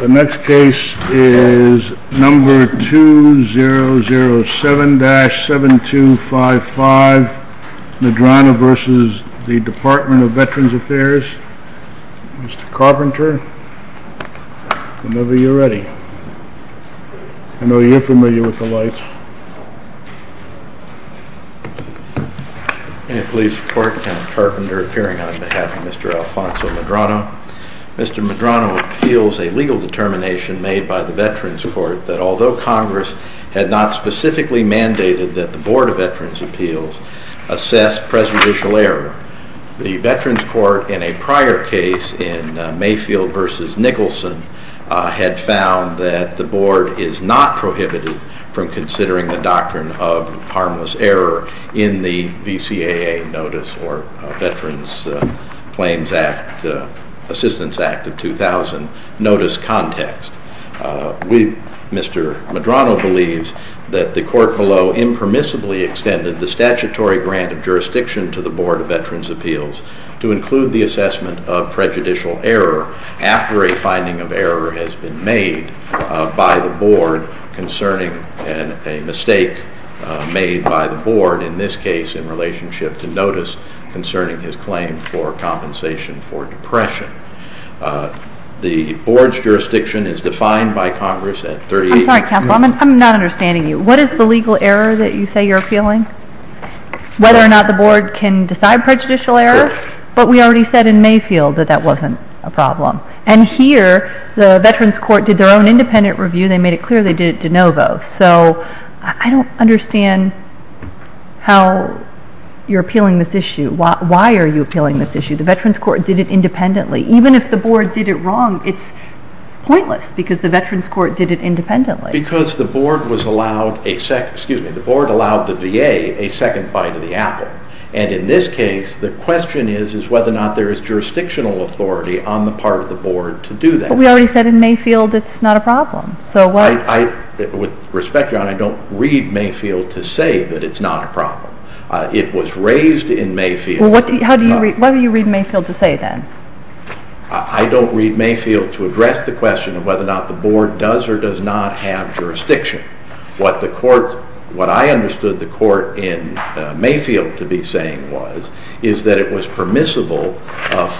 The next case is number 2007-7255 Medrano v. Department of Veterans Affairs. Mr. Carpenter, whenever you're ready. I know you're familiar with the lights. May it please the Court, I'm Carpenter, appearing on behalf of Mr. Alfonso Medrano. Mr. Medrano appeals a legal determination made by the Veterans Court that although Congress had not specifically mandated that the Board of Veterans Appeals assess prejudicial error, the Veterans Court in a prior case in Mayfield v. Nicholson had found that the Board is not prohibited from considering the doctrine of harmless error in the VCAA notice or Veterans Claims Assistance Act of 2000 notice context. Mr. Medrano believes that the Court below impermissibly extended the statutory grant of jurisdiction to the Board of Veterans Appeals to include the assessment of prejudicial error after a finding of error has been made by the Board concerning a mistake made by the Board in this case in relationship to notice concerning his claim for compensation for depression. The Board's jurisdiction is defined by Congress at 38. I'm sorry, Counselor, I'm not understanding you. What is the legal error that you say you're appealing? Whether or not the Board can decide prejudicial error? Sure. But we already said in Mayfield that that wasn't a problem. And here, the Veterans Court did their own independent review. They made it clear they did it de novo. I don't understand how you're appealing this issue. Why are you appealing this issue? The Veterans Court did it independently. Even if the Board did it wrong, it's pointless because the Veterans Court did it independently. Because the Board allowed the VA a second bite of the apple. And in this case, the question is whether or not there is jurisdictional authority on the part of the Board to do that. But we already said in Mayfield it's not a problem. With respect, Your Honor, I don't read Mayfield to say that it's not a problem. It was raised in Mayfield. Well, what do you read Mayfield to say then? I don't read Mayfield to address the question of whether or not the Board does or does not have jurisdiction. What I understood the Court in Mayfield to be saying was is that it was permissible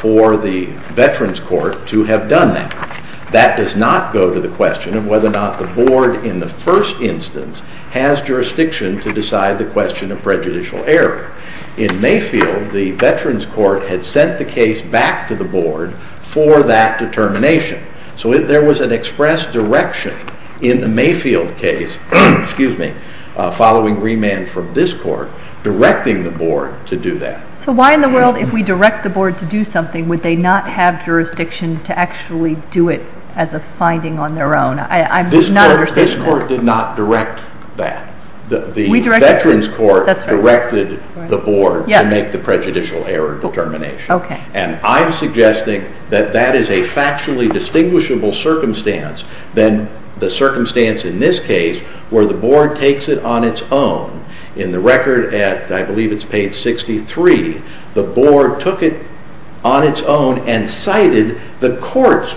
for the Veterans Court to have done that. That does not go to the question of whether or not the Board in the first instance has jurisdiction to decide the question of prejudicial error. In Mayfield, the Veterans Court had sent the case back to the Board for that determination. So there was an express direction in the Mayfield case, following remand from this Court, directing the Board to do that. So why in the world, if we direct the Board to do something, would they not have jurisdiction to actually do it as a finding on their own? This Court did not direct that. The Veterans Court directed the Board to make the prejudicial error determination. And I'm suggesting that that is a factually distinguishable circumstance than the circumstance in this case where the Board takes it on its own. In the record, I believe it's page 63, the Board took it on its own and cited the Court's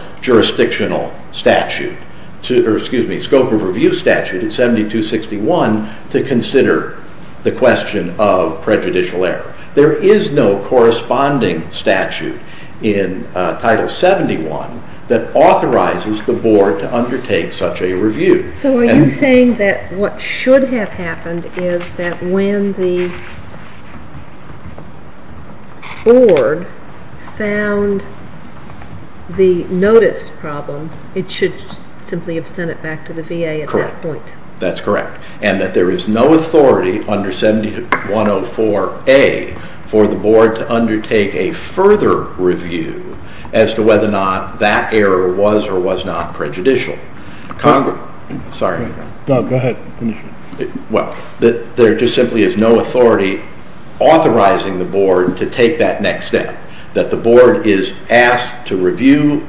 scope of review statute in 7261 to consider the question of prejudicial error. There is no corresponding statute in Title 71 that authorizes the Board to undertake such a review. So are you saying that what should have happened is that when the Board found the notice problem, it should simply have sent it back to the VA at that point? Correct. That's correct. And that there is no authority under 7104A for the Board to undertake a further review as to whether or not that error was or was not prejudicial. Doug, go ahead. Well, there just simply is no authority authorizing the Board to take that next step, that the Board is asked to review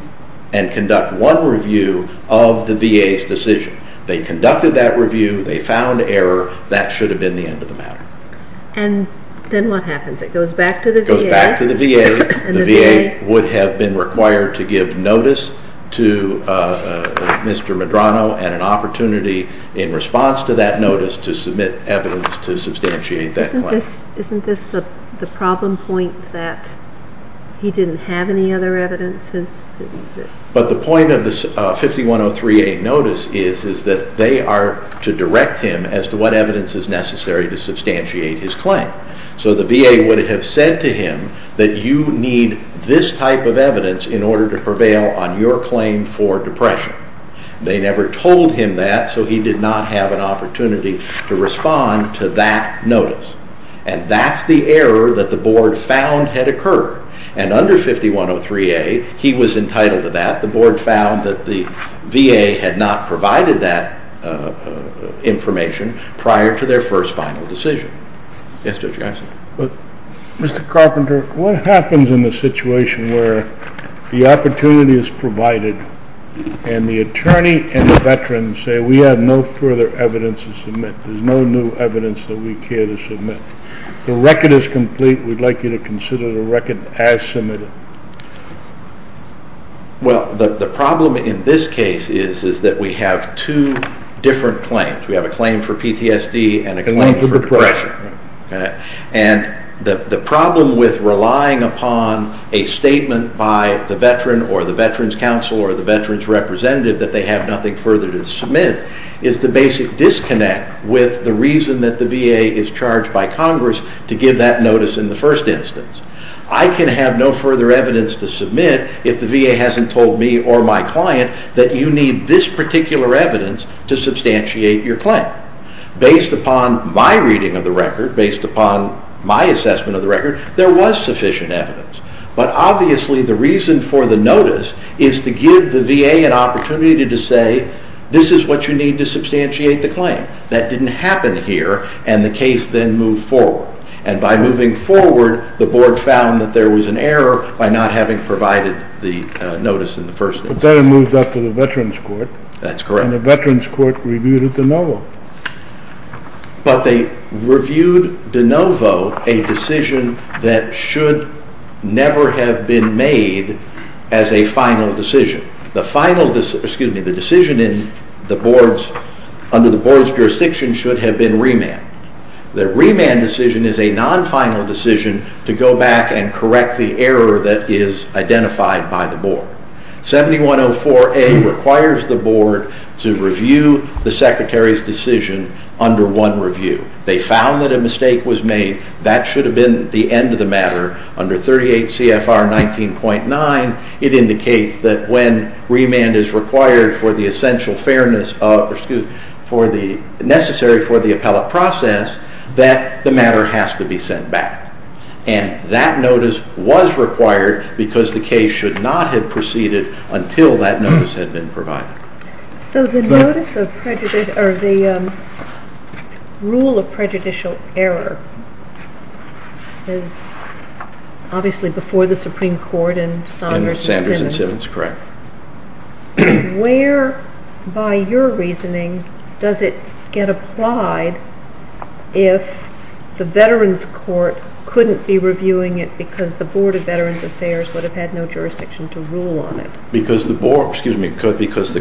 and conduct one review of the VA's decision. They conducted that review, they found error, that should have been the end of the matter. And then what happens? It goes back to the VA? The VA would have been required to give notice to Mr. Medrano and an opportunity in response to that notice to submit evidence to substantiate that claim. Isn't this the problem point that he didn't have any other evidence? But the point of the 5103A notice is that they are to direct him as to what evidence is necessary to substantiate his claim. So the VA would have said to him that you need this type of evidence in order to prevail on your claim for depression. They never told him that, so he did not have an opportunity to respond to that notice. And that's the error that the Board found had occurred. And under 5103A, he was entitled to that. The Board found that the VA had not provided that information prior to their first final decision. Yes, Judge Jackson. Mr. Carpenter, what happens in the situation where the opportunity is provided and the attorney and the veteran say we have no further evidence to submit, there's no new evidence that we care to submit, the record is complete, we'd like you to consider the record as submitted? Well, the problem in this case is that we have two different claims. We have a claim for PTSD and a claim for depression. And the problem with relying upon a statement by the veteran or the Veterans Council or the veterans representative that they have nothing further to submit is the basic disconnect with the reason that the VA is charged by Congress to give that notice in the first instance. I can have no further evidence to submit if the VA hasn't told me or my client that you need this particular evidence to substantiate your claim. Based upon my reading of the record, based upon my assessment of the record, there was sufficient evidence. But obviously the reason for the notice is to give the VA an opportunity to say this is what you need to substantiate the claim. That didn't happen here and the case then moved forward. And by moving forward, the board found that there was an error by not having provided the notice in the first instance. But then it moved up to the Veterans Court. That's correct. And the Veterans Court reviewed it de novo. But they reviewed de novo a decision that should never have been made as a final decision. The decision under the board's jurisdiction should have been remanded. The remand decision is a non-final decision to go back and correct the error that is identified by the board. 7104A requires the board to review the Secretary's decision under one review. They found that a mistake was made. That should have been the end of the matter. Under 38 CFR 19.9, it indicates that when remand is required for the essential fairness necessary for the appellate process, that the matter has to be sent back. And that notice was required because the case should not have proceeded until that notice had been provided. So the rule of prejudicial error is obviously before the Supreme Court and Sanders and Simmons. Correct. Where, by your reasoning, does it get applied if the Veterans Court couldn't be reviewing it because the Board of Veterans Affairs would have had no jurisdiction to rule on it? Because the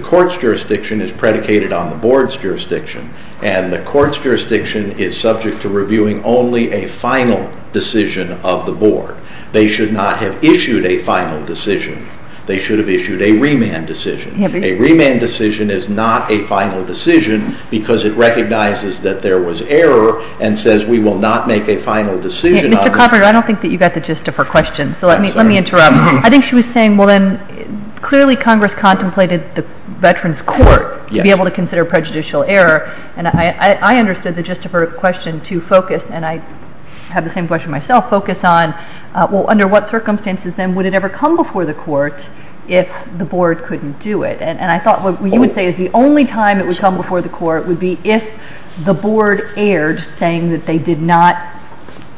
court's jurisdiction is predicated on the board's jurisdiction and the court's jurisdiction is subject to reviewing only a final decision of the board. They should not have issued a final decision. They should have issued a remand decision. A remand decision is not a final decision because it recognizes that there was error and says we will not make a final decision. Mr. Carpenter, I don't think that you got the gist of her question, so let me interrupt. I think she was saying, well, then, clearly Congress contemplated the Veterans Court to be able to consider prejudicial error. And I understood the gist of her question to focus, and I have the same question myself, focus on, well, under what circumstances then would it ever come before the court if the board couldn't do it? And I thought what you would say is the only time it would come before the court would be if the board erred, saying that they did not,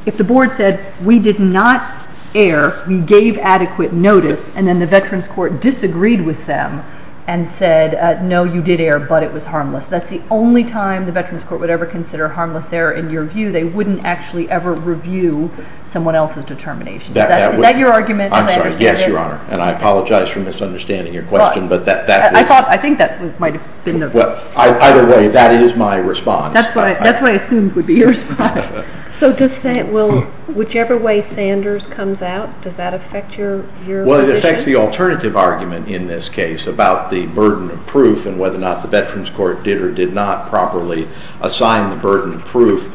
if the board said we did not err, we gave adequate notice, and then the Veterans Court disagreed with them and said, no, you did err, but it was harmless. That's the only time the Veterans Court would ever consider harmless error in your view. They wouldn't actually ever review someone else's determination. Is that your argument? I'm sorry. Yes, Your Honor, and I apologize for misunderstanding your question. I thought, I think that might have been the. Either way, that is my response. That's what I assumed would be your response. So does, will, whichever way Sanders comes out, does that affect your. Well, it affects the alternative argument in this case about the burden of proof and whether or not the Veterans Court did or did not properly assign the burden of proof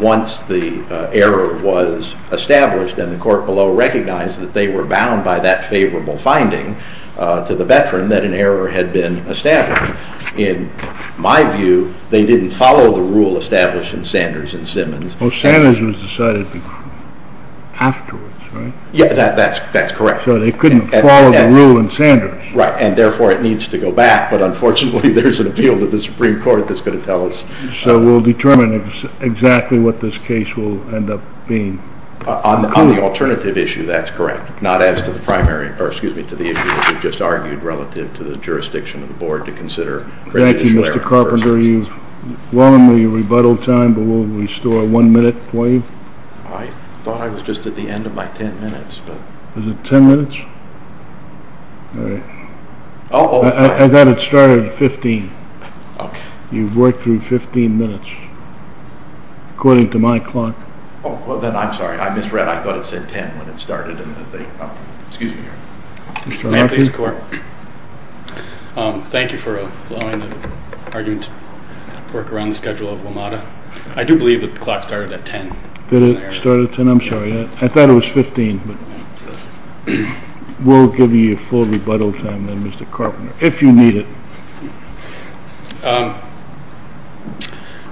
once the error was established and the court below recognized that they were bound by that favorable finding to the veteran that an error had been established. In my view, they didn't follow the rule established in Sanders and Simmons. Oh, Sanders was decided afterwards, right? Yeah, that's correct. So they couldn't follow the rule in Sanders. Right, and therefore it needs to go back, but unfortunately there's an appeal to the Supreme Court that's going to tell us. So we'll determine exactly what this case will end up being. On the alternative issue, that's correct, not as to the primary, or excuse me, to the issue that we just argued relative to the jurisdiction of the board to consider prejudicial error versus. Thank you, Mr. Carpenter. You've willingly rebuttaled time, but we'll restore one minute for you. I thought I was just at the end of my 10 minutes, but. Was it 10 minutes? All right. I thought it started at 15. Okay. You've worked through 15 minutes according to my clock. Oh, well, then I'm sorry. I misread. I thought it said 10 when it started. Excuse me. Mr. Hockey. Thank you for allowing the argument to work around the schedule of WMATA. I do believe that the clock started at 10. Did it start at 10? I'm sorry. I thought it was 15. We'll give you your full rebuttal time then, Mr. Carpenter, if you need it.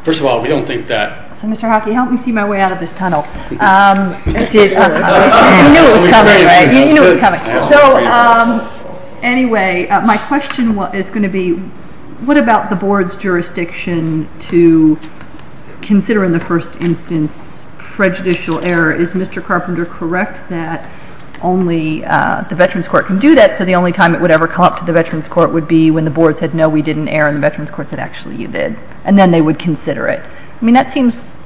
First of all, we don't think that. So, Mr. Hockey, help me see my way out of this tunnel. You knew it was coming, right? You knew it was coming. So, anyway, my question is going to be, what about the board's jurisdiction to consider in the first instance prejudicial error? Is Mr. Carpenter correct that only the Veterans Court can do that, so the only time it would ever come up to the Veterans Court would be when the board said, no, we didn't err, and the Veterans Court said, actually, you did, and then they would consider it. I mean, that seems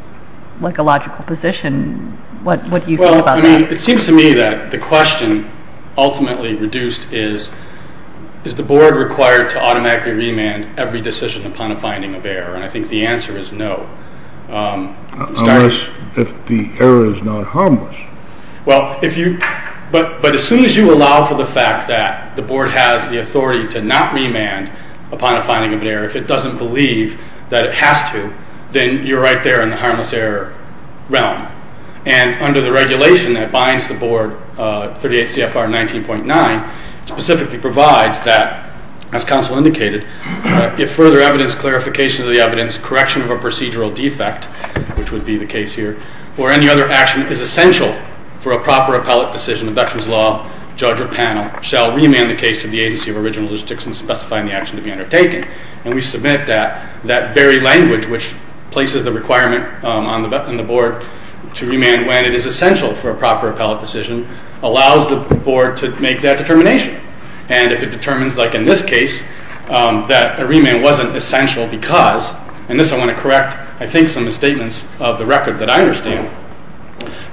like a logical position. What do you think about that? Well, I mean, it seems to me that the question ultimately reduced is, is the board required to automatically remand every decision upon a finding of error? And I think the answer is no. Unless the error is not harmless. Well, if you – but as soon as you allow for the fact that the board has the authority to not remand upon a finding of error, if it doesn't believe that it has to, then you're right there in the harmless error realm. And under the regulation that binds the board, 38 CFR 19.9, specifically provides that, as counsel indicated, if further evidence, clarification of the evidence, correction of a procedural defect, which would be the case here, or any other action is essential for a proper appellate decision, a veterans law judge or panel shall remand the case to the agency of original jurisdiction specifying the action to be undertaken. And we submit that that very language, which places the requirement on the board to remand when it is essential for a proper appellate decision, allows the board to make that determination. And if it determines, like in this case, that a remand wasn't essential because – and this I want to correct, I think, some statements of the record that I understand –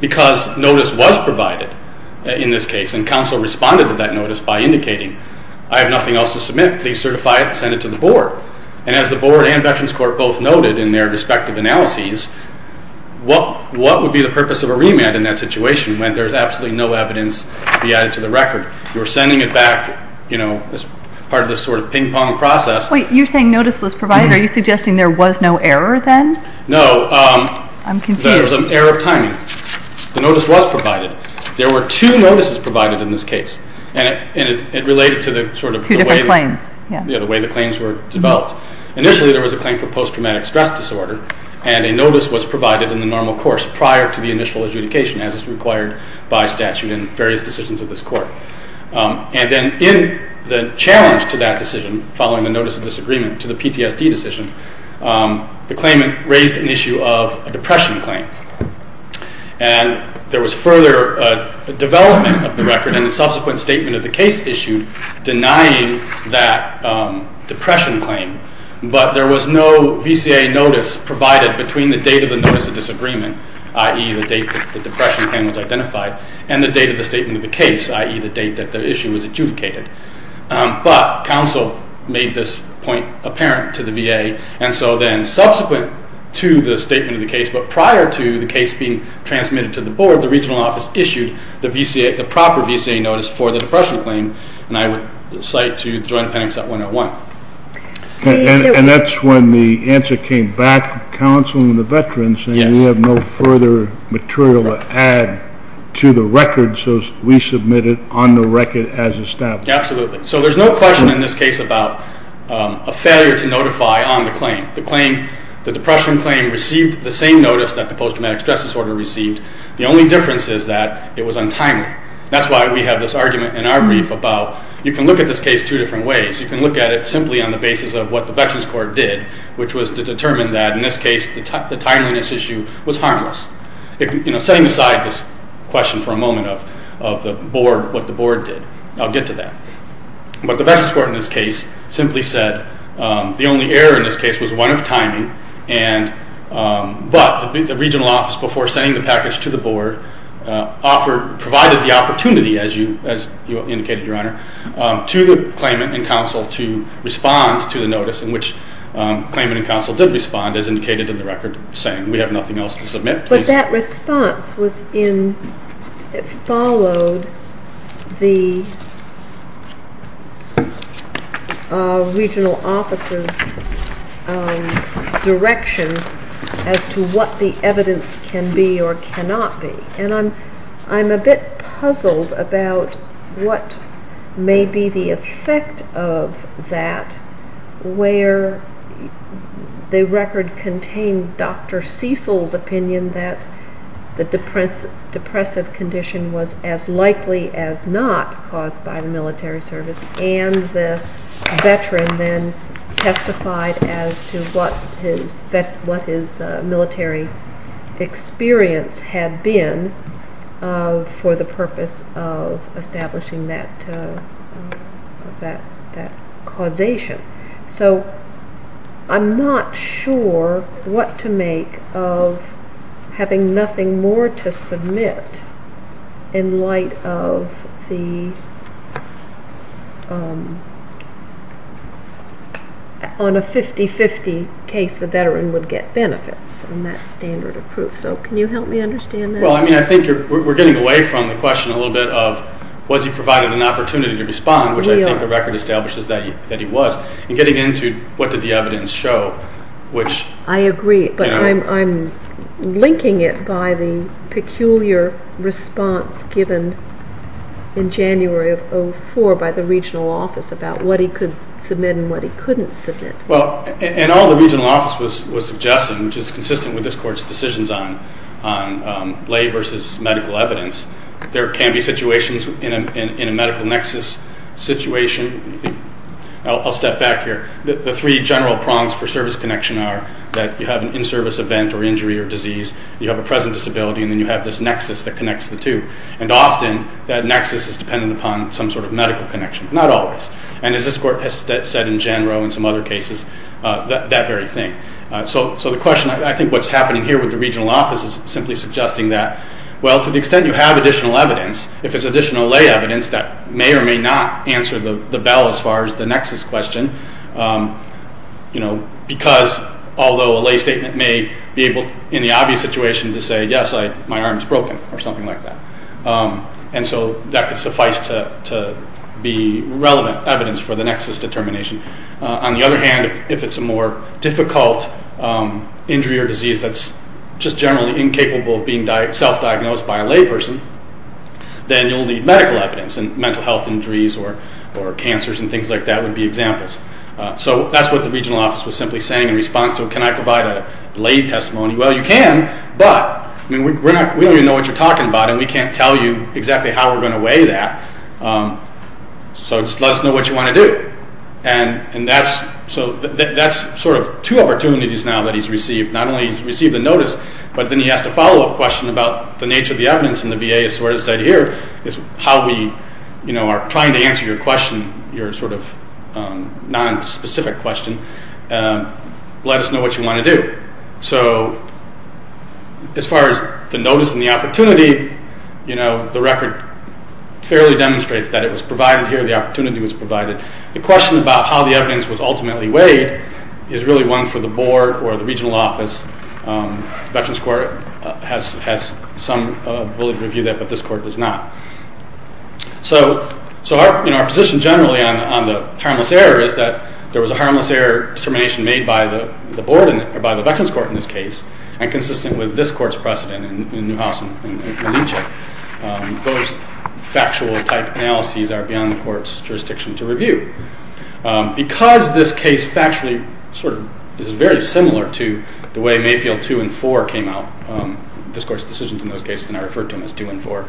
because notice was provided in this case, and counsel responded to that notice by indicating, I have nothing else to submit. Please certify it and send it to the board. And as the board and veterans court both noted in their respective analyses, what would be the purpose of a remand in that situation when there's absolutely no evidence to be added to the record? You're sending it back, you know, as part of this sort of ping-pong process. Wait, you're saying notice was provided? Are you suggesting there was no error then? No. I'm confused. There was an error of timing. The notice was provided. There were two notices provided in this case. And it related to the way the claims were developed. Initially, there was a claim for post-traumatic stress disorder, and a notice was provided in the normal course prior to the initial adjudication, as is required by statute in various decisions of this court. And then in the challenge to that decision, following the notice of disagreement to the PTSD decision, the claimant raised an issue of a depression claim. And there was further development of the record, and the subsequent statement of the case issued denying that depression claim. But there was no VCA notice provided between the date of the notice of disagreement, i.e., the date that the depression claim was identified, and the date of the statement of the case, i.e., the date that the issue was adjudicated. But counsel made this point apparent to the VA, and so then subsequent to the statement of the case but prior to the case being transmitted to the board, the regional office issued the proper VCA notice for the depression claim, and I would cite to the Joint Appendix at 101. And that's when the answer came back, the counsel and the veterans, saying we have no further material to add to the record, so we submit it on the record as established. Absolutely. So there's no question in this case about a failure to notify on the claim. The depression claim received the same notice that the post-traumatic stress disorder received. The only difference is that it was untimely. That's why we have this argument in our brief about you can look at this case two different ways. You can look at it simply on the basis of what the Veterans Court did, which was to determine that in this case the timeliness issue was harmless, setting aside this question for a moment of what the board did. I'll get to that. But the Veterans Court in this case simply said the only error in this case was one of timing, but the regional office, before sending the package to the board, provided the opportunity, as you indicated, Your Honor, to the claimant and counsel to respond to the notice, in which the claimant and counsel did respond, as indicated in the record, saying we have nothing else to submit. But that response followed the regional office's direction as to what the evidence can be or cannot be. And I'm a bit puzzled about what may be the effect of that, where the record contained Dr. Cecil's opinion that the depressive condition was as likely as not caused by the military service, and the veteran then testified as to what his military experience had been for the purpose of establishing that causation. So I'm not sure what to make of having nothing more to submit in light of the, on a 50-50 case, the veteran would get benefits. And that's standard of proof. So can you help me understand that? Well, I mean, I think we're getting away from the question a little bit of was he provided an opportunity to respond, which I think the record establishes that he was, and getting into what did the evidence show, which... I agree, but I'm linking it by the peculiar response given in January of 2004 by the regional office about what he could submit and what he couldn't submit. Well, and all the regional office was suggesting, which is consistent with this Court's decisions on lay versus medical evidence, there can be situations in a medical nexus situation. I'll step back here. The three general prongs for service connection are that you have an in-service event or injury or disease, you have a present disability, and then you have this nexus that connects the two. And often that nexus is dependent upon some sort of medical connection, not always. And as this Court has said in Jan Rowe and some other cases, that very thing. So the question, I think, what's happening here with the regional office is simply suggesting that, well, to the extent you have additional evidence, if it's additional lay evidence, that may or may not answer the bell as far as the nexus question, because although a lay statement may be able, in the obvious situation, to say, yes, my arm's broken or something like that. And so that could suffice to be relevant evidence for the nexus determination. On the other hand, if it's a more difficult injury or disease that's just generally incapable of being self-diagnosed by a lay person, then you'll need medical evidence, and mental health injuries or cancers and things like that would be examples. So that's what the regional office was simply saying in response to, can I provide a lay testimony? Well, you can, but we don't even know what you're talking about and we can't tell you exactly how we're going to weigh that. So just let us know what you want to do. And that's sort of two opportunities now that he's received. Not only has he received the notice, but then he has to follow-up question about the nature of the evidence and the VA has sort of said here is how we are trying to answer your question, your sort of nonspecific question. Let us know what you want to do. So as far as the notice and the opportunity, the record fairly demonstrates that it was provided here, the opportunity was provided. The question about how the evidence was ultimately weighed is really one for the board or the regional office. Veterans Court has some ability to review that, but this court does not. So our position generally on the harmless error is that there was a harmless error determination made by the board or by the Veterans Court in this case and consistent with this court's precedent in Newhouse and Malinche. Those factual type analyses are beyond the court's jurisdiction to review. Because this case factually is very similar to the way Mayfield 2 and 4 came out, this court's decisions in those cases, and I referred to them as 2 and 4,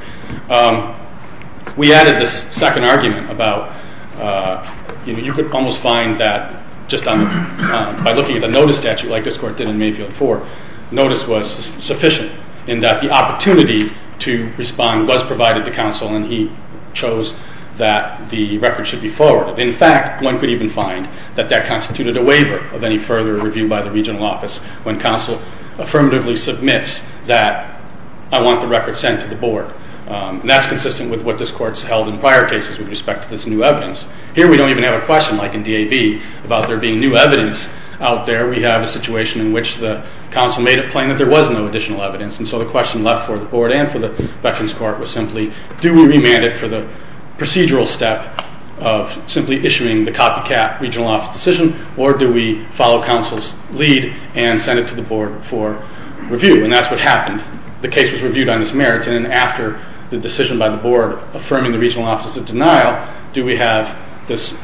we added this second argument about you could almost find that just by looking at the notice statute like this court did in Mayfield 4, notice was sufficient in that the opportunity to respond was provided to counsel and he chose that the record should be forwarded. In fact, one could even find that that constituted a waiver of any further review by the regional office when counsel affirmatively submits that I want the record sent to the board. And that's consistent with what this court's held in prior cases with respect to this new evidence. Here we don't even have a question, like in DAV, about there being new evidence out there. We have a situation in which the counsel made it plain that there was no additional evidence, and so the question left for the board and for the Veterans Court was simply do we remand it for the procedural step of simply issuing the copycat regional office decision or do we follow counsel's lead and send it to the board for review? And that's what happened. The case was reviewed on its merits and then after the decision by the board affirming the regional office's denial, do we have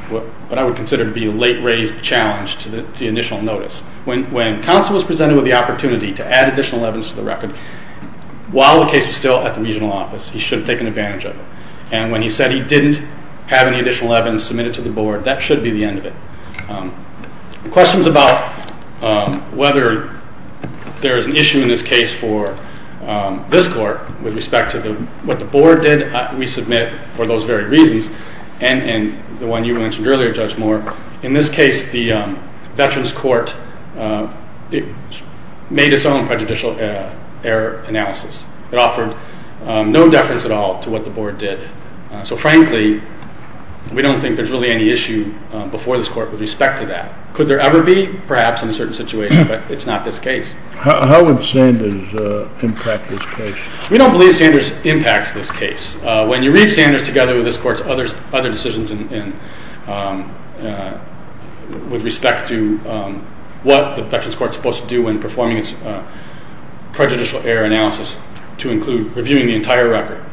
what I would consider to be a late-raised challenge to the initial notice. When counsel was presented with the opportunity to add additional evidence to the record, while the case was still at the regional office, he should have taken advantage of it. And when he said he didn't have any additional evidence submitted to the board, that should be the end of it. Questions about whether there is an issue in this case for this court with respect to what the board did, we submit for those very reasons and the one you mentioned earlier, Judge Moore, in this case the Veterans Court made its own prejudicial error analysis. It offered no deference at all to what the board did. So frankly, we don't think there's really any issue before this court with respect to that. Could there ever be? Perhaps in a certain situation, but it's not this case. How would Sanders impact this case? We don't believe Sanders impacts this case. When you read Sanders together with this court's other decisions with respect to what the Veterans Court is supposed to do when performing its prejudicial error analysis, to include reviewing the entire record.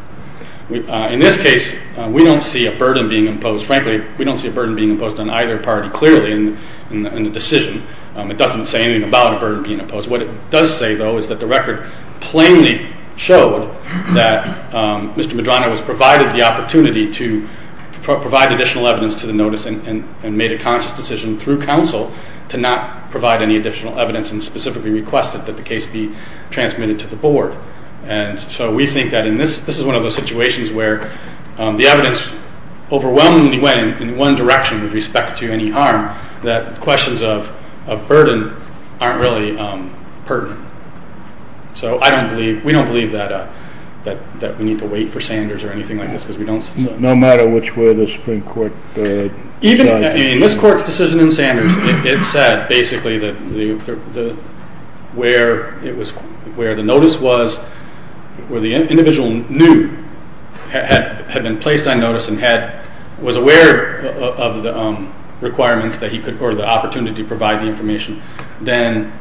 In this case, we don't see a burden being imposed. It wasn't imposed on either party clearly in the decision. It doesn't say anything about a burden being imposed. What it does say, though, is that the record plainly showed that Mr. Medrano was provided the opportunity to provide additional evidence to the notice and made a conscious decision through counsel to not provide any additional evidence and specifically requested that the case be transmitted to the board. So we think that this is one of those situations where the evidence overwhelmingly went in one direction with respect to any harm, that questions of burden aren't really pertinent. So we don't believe that we need to wait for Sanders or anything like this. No matter which way the Supreme Court decides. In this court's decision in Sanders, it said basically that where the notice was, where the individual knew, had been placed on notice and was aware of the requirements or the opportunity to provide the information, then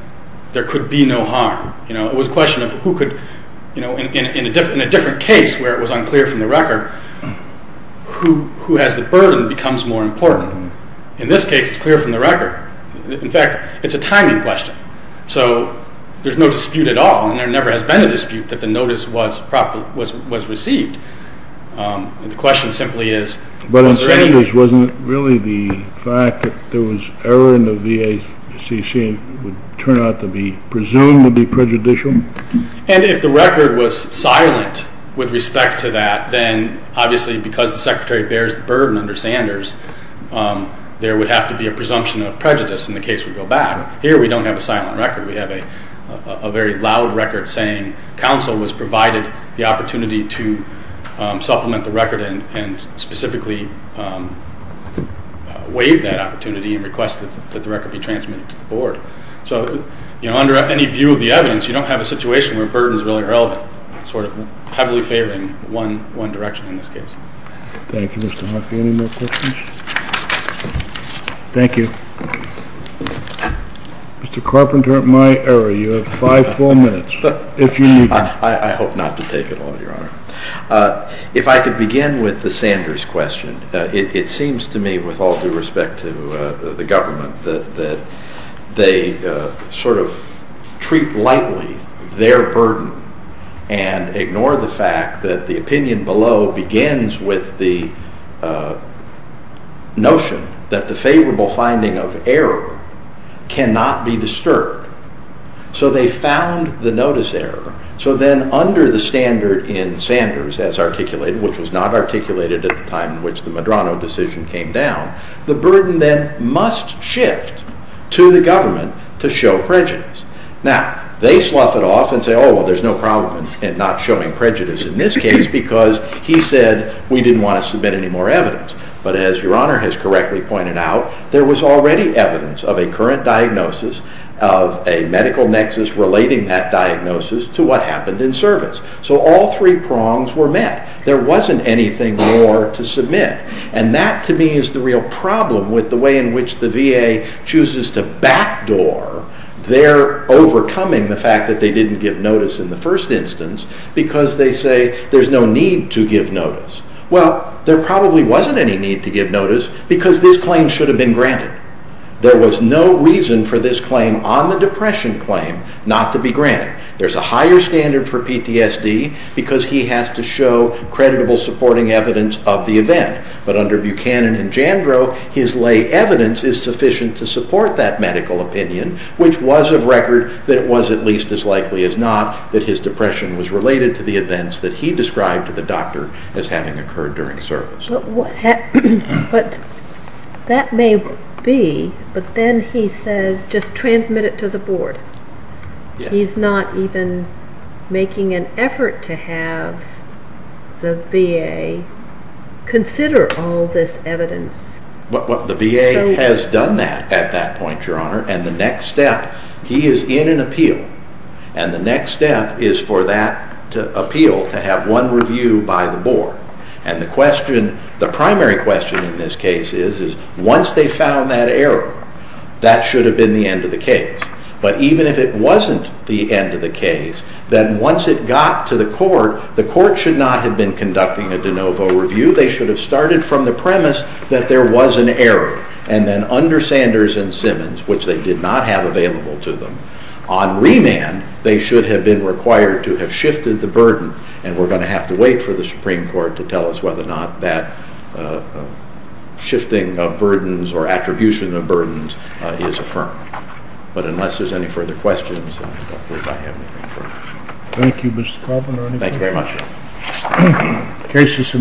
there could be no harm. It was a question of who could, in a different case where it was unclear from the record, who has the burden becomes more important. In this case, it's clear from the record. In fact, it's a timing question. So there's no dispute at all, and there never has been a dispute that the notice was received. The question simply is... But in Sanders, wasn't it really the fact that there was error in the V.A.C.C. would turn out to be presumed to be prejudicial? And if the record was silent with respect to that, then obviously because the Secretary bears the burden under Sanders, there would have to be a presumption of prejudice in the case we go back. Here we don't have a silent record. We have a very loud record saying counsel was provided the opportunity to supplement the record and specifically waive that opportunity and request that the record be transmitted to the board. So under any view of the evidence, you don't have a situation where burden is really relevant, sort of heavily favoring one direction in this case. Thank you, Mr. Murphy. Any more questions? Thank you. Mr. Carpenter, at my error, you have five full minutes. I hope not to take it all, Your Honor. If I could begin with the Sanders question. It seems to me, with all due respect to the government, that they sort of treat lightly their burden and ignore the fact that the opinion below begins with the notion that the favorable finding of error cannot be disturbed. So they found the notice error. So then under the standard in Sanders as articulated, which was not articulated at the time in which the Medrano decision came down, the burden then must shift to the government to show prejudice. Now, they slough it off and say, oh, well, there's no problem in not showing prejudice in this case because he said we didn't want to submit any more evidence. But as Your Honor has correctly pointed out, there was already evidence of a current diagnosis, of a medical nexus relating that diagnosis to what happened in service. So all three prongs were met. There wasn't anything more to submit. And that, to me, is the real problem with the way in which the VA chooses to backdoor their overcoming the fact that they didn't give notice in the first instance because they say there's no need to give notice. Well, there probably wasn't any need to give notice because this claim should have been granted. There was no reason for this claim on the depression claim not to be granted. There's a higher standard for PTSD because he has to show creditable supporting evidence of the event. But under Buchanan and Jandro, his lay evidence is sufficient to support that medical opinion, which was of record that it was at least as likely as not that his depression was related to the events that he described to the doctor as having occurred during service. But that may be, but then he says, just transmit it to the board. He's not even making an effort to have the VA consider all this evidence. The VA has done that at that point, Your Honor, and the next step, he is in an appeal, and the next step is for that appeal to have one review by the board. And the primary question in this case is, once they found that error, that should have been the end of the case. But even if it wasn't the end of the case, then once it got to the court, the court should not have been conducting a de novo review. They should have started from the premise that there was an error. And then under Sanders and Simmons, which they did not have available to them, on remand they should have been required to have shifted the burden. And we're going to have to wait for the Supreme Court to tell us whether or not that shifting of burdens or attribution of burdens is affirmed. But unless there's any further questions, I don't believe I have anything further. Thank you, Mr. Kaufman. Thank you very much.